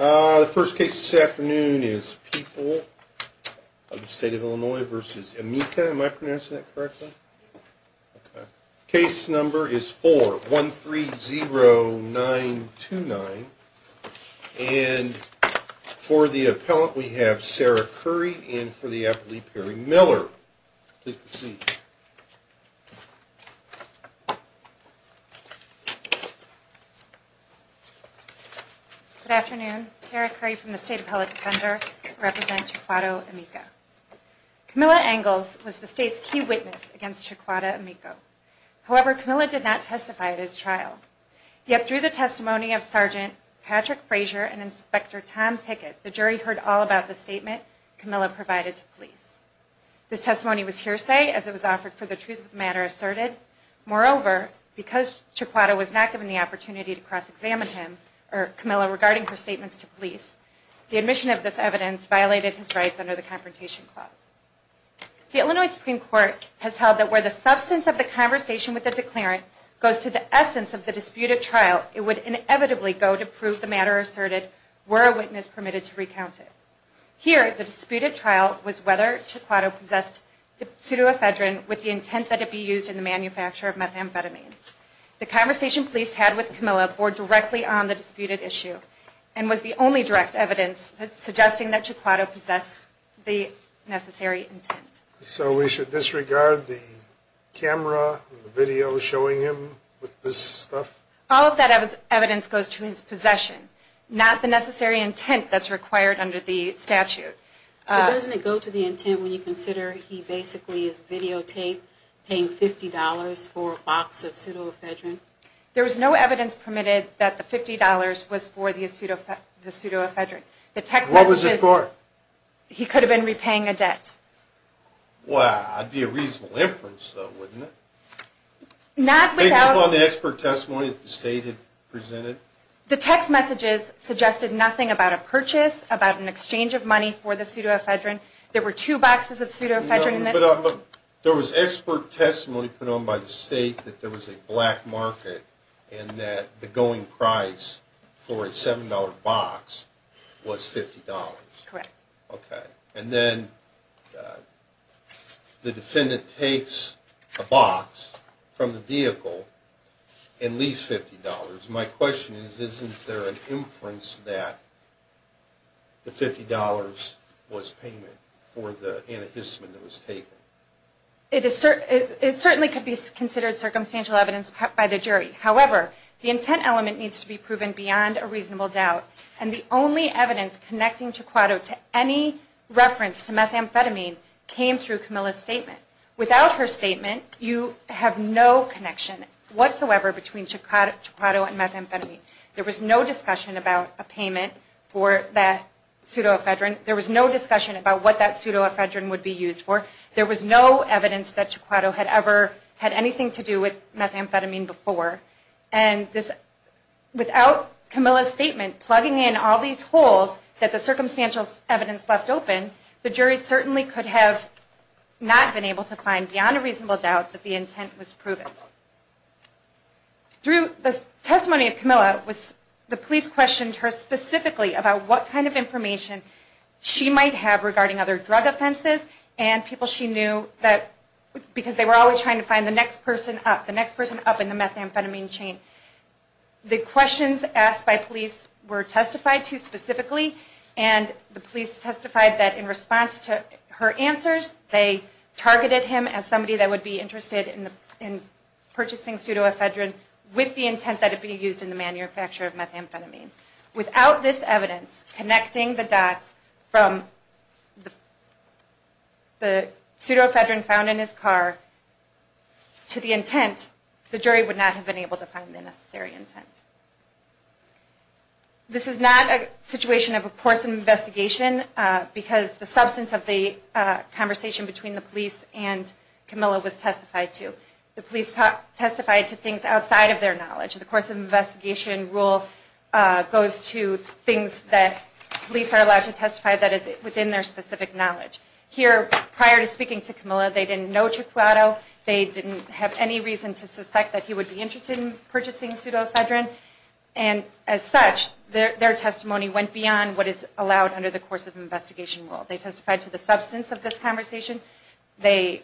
The first case this afternoon is People of the State of Illinois v. Emeka. Am I pronouncing that correctly? Case number is 4130929. And for the appellant, we have Sarah Curry and for the appellant, Leigh Perry Miller. Please proceed. Good afternoon. Sarah Curry from the State Appellate Defender. I represent Chiquada Emeka. Camilla Angles was the state's key witness against Chiquada Emeka. However, Camilla did not testify at his trial. Yet through the testimony of Sgt. Patrick Frazier and Inspector Tom Pickett, the jury heard all about the statement Camilla provided to police. This testimony was hearsay as it was offered for the truth of the matter asserted. Moreover, because Chiquada was not given the opportunity to cross-examine Camilla regarding her statements to police, the admission of this evidence violated his rights under the Confrontation Clause. The Illinois Supreme Court has held that where the substance of the conversation with the declarant goes to the essence of the disputed trial, it would inevitably go to prove the matter asserted were a witness permitted to recount it. Here, the disputed trial was whether Chiquada possessed the pseudoephedrine with the intent that it be used in the manufacture of methamphetamine. The conversation police had with Camilla bore directly on the disputed issue and was the only direct evidence suggesting that Chiquada possessed the necessary intent. So we should disregard the camera and the video showing him with this stuff? All of that evidence goes to his possession, not the necessary intent that's required under the statute. But doesn't it go to the intent when you consider he basically is videotaped paying $50 for a box of pseudoephedrine? There was no evidence permitted that the $50 was for the pseudoephedrine. What was it for? He could have been repaying a debt. Well, that would be a reasonable inference, though, wouldn't it? Based upon the expert testimony that the State had presented? The text messages suggested nothing about a purchase, about an exchange of money for the pseudoephedrine. There were two boxes of pseudoephedrine. No, but there was expert testimony put on by the State that there was a black market and that the going price for a $7 box was $50. Correct. Okay, and then the defendant takes a box from the vehicle and leaves $50. My question is, isn't there an inference that the $50 was payment for the antihistamine that was taken? It certainly could be considered circumstantial evidence by the jury. However, the intent element needs to be proven beyond a reasonable doubt, and the only evidence connecting Chiquato to any reference to methamphetamine came through Camilla's statement. Without her statement, you have no connection whatsoever between Chiquato and methamphetamine. There was no discussion about a payment for that pseudoephedrine. There was no discussion about what that pseudoephedrine would be used for. There was no evidence that Chiquato had ever had anything to do with methamphetamine before. And without Camilla's statement plugging in all these holes that the circumstantial evidence left open, the jury certainly could have not been able to find beyond a reasonable doubt that the intent was proven. Through the testimony of Camilla, the police questioned her specifically about what kind of information she might have regarding other drug offenses and people she knew, because they were always trying to find the next person up, the next person up in the methamphetamine chain. The questions asked by police were testified to specifically, and the police testified that in response to her answers, they targeted him as somebody that would be interested in purchasing pseudoephedrine with the intent that it be used in the manufacture of methamphetamine. Without this evidence connecting the dots from the pseudoephedrine found in his car to the intent, the jury would not have been able to find the necessary intent. This is not a situation of a course of investigation, because the substance of the conversation between the police and Camilla was testified to. The police testified to things outside of their knowledge. The course of investigation rule goes to things that police are allowed to testify that is within their specific knowledge. Here, prior to speaking to Camilla, they didn't know Chiquato. They didn't have any reason to suspect that he would be interested in purchasing pseudoephedrine. As such, their testimony went beyond what is allowed under the course of investigation rule. They testified to the substance of this conversation. They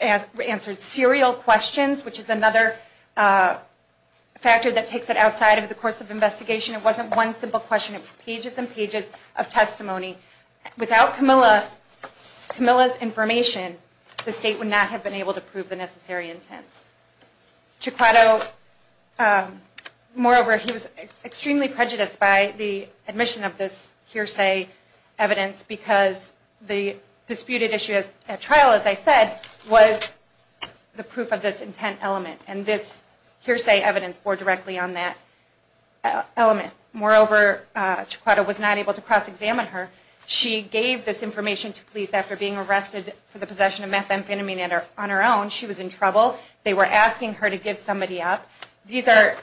answered serial questions, which is another factor that takes it outside of the course of investigation. It wasn't one simple question. It was pages and pages of testimony. Without Camilla's information, the state would not have been able to prove the necessary intent. Chiquato, moreover, he was extremely prejudiced by the admission of this hearsay evidence, because the disputed issue at trial, as I said, was the proof of this intent element, and this hearsay evidence bore directly on that element. Moreover, Chiquato was not able to cross-examine her. She gave this information to police after being arrested for the possession of methamphetamine on her own. She was in trouble. They were asking her to give somebody up. These are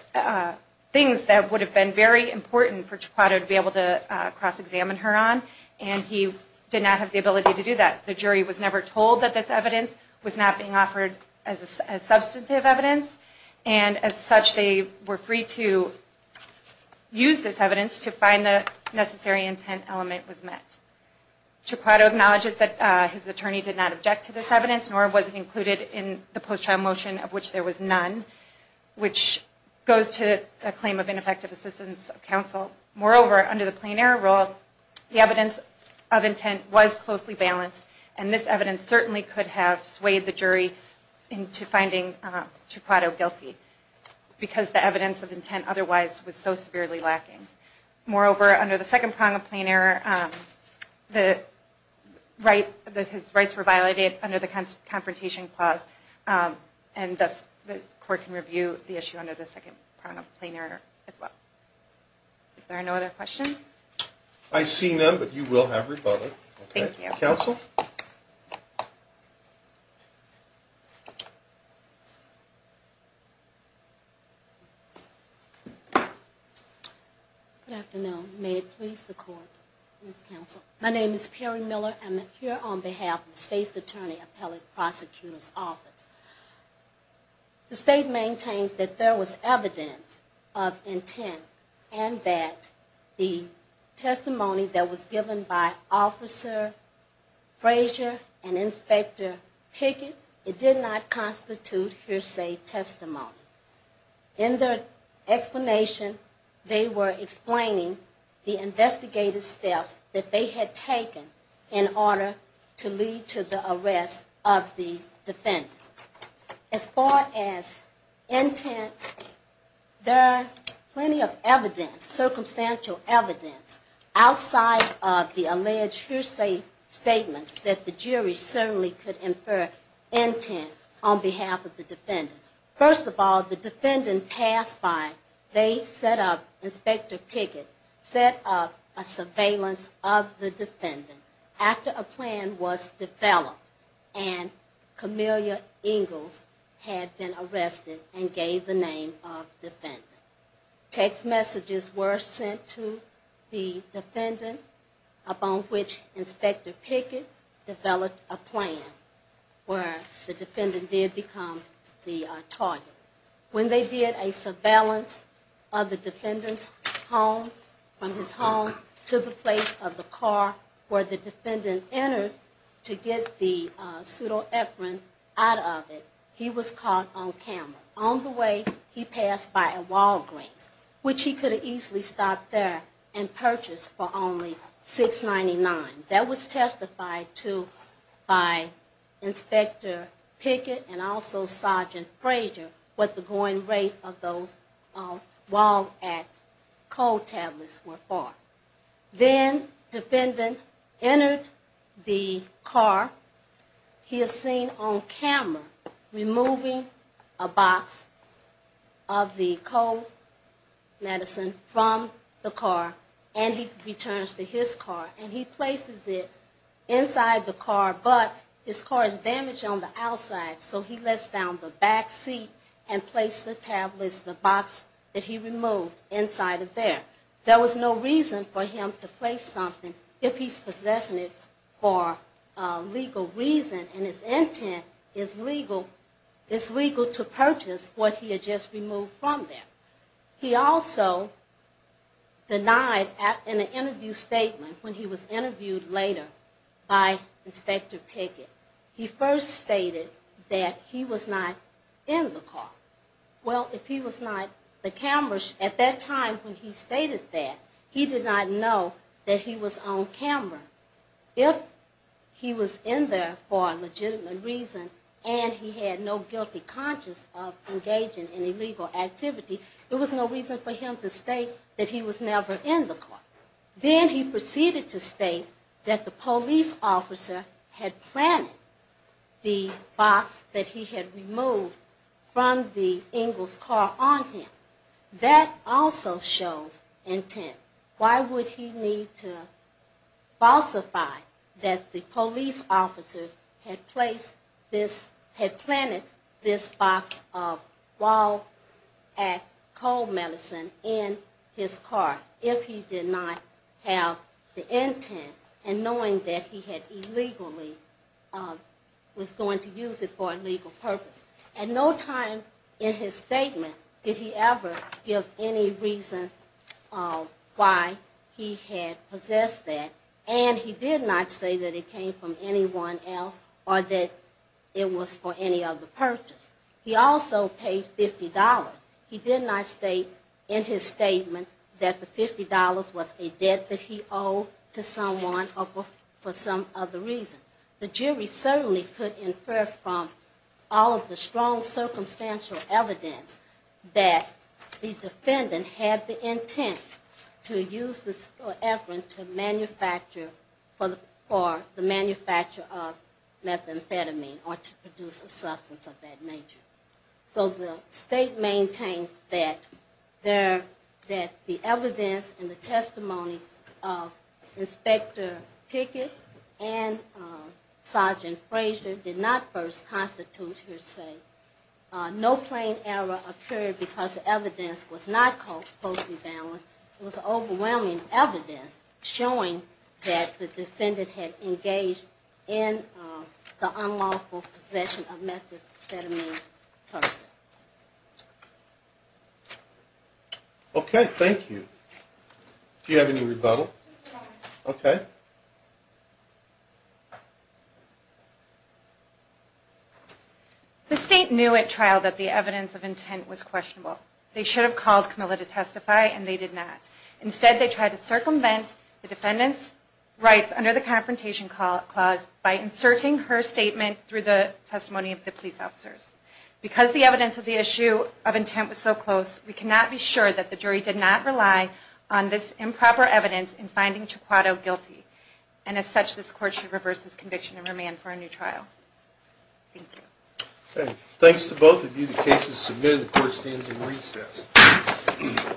things that would have been very important for Chiquato to be able to cross-examine her on, and he did not have the ability to do that. The jury was never told that this evidence was not being offered as substantive evidence, and as such, they were free to use this evidence to find the necessary intent element was met. Chiquato acknowledges that his attorney did not object to this evidence, nor was it included in the post-trial motion, of which there was none, which goes to a claim of ineffective assistance of counsel. Moreover, under the plain error rule, the evidence of intent was closely balanced, and this evidence certainly could have swayed the jury into finding Chiquato guilty, because the evidence of intent otherwise was so severely lacking. Moreover, under the second prong of plain error, his rights were violated under the Confrontation Clause, and thus the court can review the issue under the second prong of plain error as well. Are there no other questions? I see none, but you will have rebutted. Thank you. Counsel? Good afternoon. May it please the court and counsel. My name is Perry Miller. I'm here on behalf of the State's Attorney Appellate Prosecutor's Office. The State maintains that there was evidence of intent, and that the testimony that was given by Officer Frazier and Inspector Pickett, it did not constitute hearsay testimony. In their explanation, they were explaining the investigative steps that they had taken in order to lead to the arrest of the defendant. As far as intent, there are plenty of evidence, circumstantial evidence, outside of the alleged hearsay statements that the jury certainly could infer intent on behalf of the defendant. First of all, the defendant passed by. They set up, Inspector Pickett set up a surveillance of the defendant after a plan was developed and Camelia Ingalls had been arrested and gave the name of defendant. Text messages were sent to the defendant, upon which Inspector Pickett developed a plan where the defendant did become the target. When they did a surveillance of the defendant's home, from his home to the place of the car where the defendant entered to get the pseudoephrine out of it, he was caught on camera. On the way, he passed by a Walgreens, which he could have easily stopped there and purchased for only $6.99. That was testified to by Inspector Pickett and also Sergeant Frazier what the going rate of those Walg at cold tablets were for. Then, defendant entered the car. He is seen on camera removing a box of the cold medicine from the car, and he returns to his car. He places it inside the car, but his car is damaged on the outside, so he lets down the back seat and places the tablets, the box that he removed, inside of there. There was no reason for him to place something if he's possessing it for legal reason, and his intent is legal to purchase what he had just removed from there. He also denied in an interview statement, when he was interviewed later by Inspector Pickett, he first stated that he was not in the car. Well, if he was not, the camera, at that time when he stated that, he did not know that he was on camera. If he was in there for a legitimate reason and he had no guilty conscience of engaging in illegal activity, there was no reason for him to state that he was never in the car. Then he proceeded to state that the police officer had planted the box that he had removed from the Ingalls' car on him. That also shows intent. Why would he need to falsify that the police officers had planted this box of Wall Act coal medicine in his car, if he did not have the intent and knowing that he was going to use it for a legal purpose? At no time in his statement did he ever give any reason why he had possessed that, and he did not say that it came from anyone else or that it was for any other purpose. He also paid $50. He did not state in his statement that the $50 was a debt that he owed to someone for some other reason. The jury certainly could infer from all of the strong circumstantial evidence that the defendant had the intent to use this effort for the manufacture of methamphetamine or to produce a substance of that nature. So the state maintains that the evidence and the testimony of Inspector Pickett and Sergeant Fraser did not first constitute her saying. No plain error occurred because the evidence was not closely balanced. It was overwhelming evidence showing that the defendant had engaged in the unlawful possession of methamphetamine. Okay, thank you. Do you have any rebuttal? Okay. The state knew at trial that the evidence of intent was questionable. They should have called Camilla to testify, and they did not. Instead, they tried to circumvent the defendant's rights under the Confrontation Clause by inserting her statement through the testimony of the police officers. Because the evidence of the issue of intent was so close, we cannot be sure that the jury did not rely on this improper evidence in finding Chiquato guilty. And as such, this Court should reverse this conviction and remand for a new trial. Thank you. Okay. Thanks to both of you. The case is submitted. The Court stands in recess.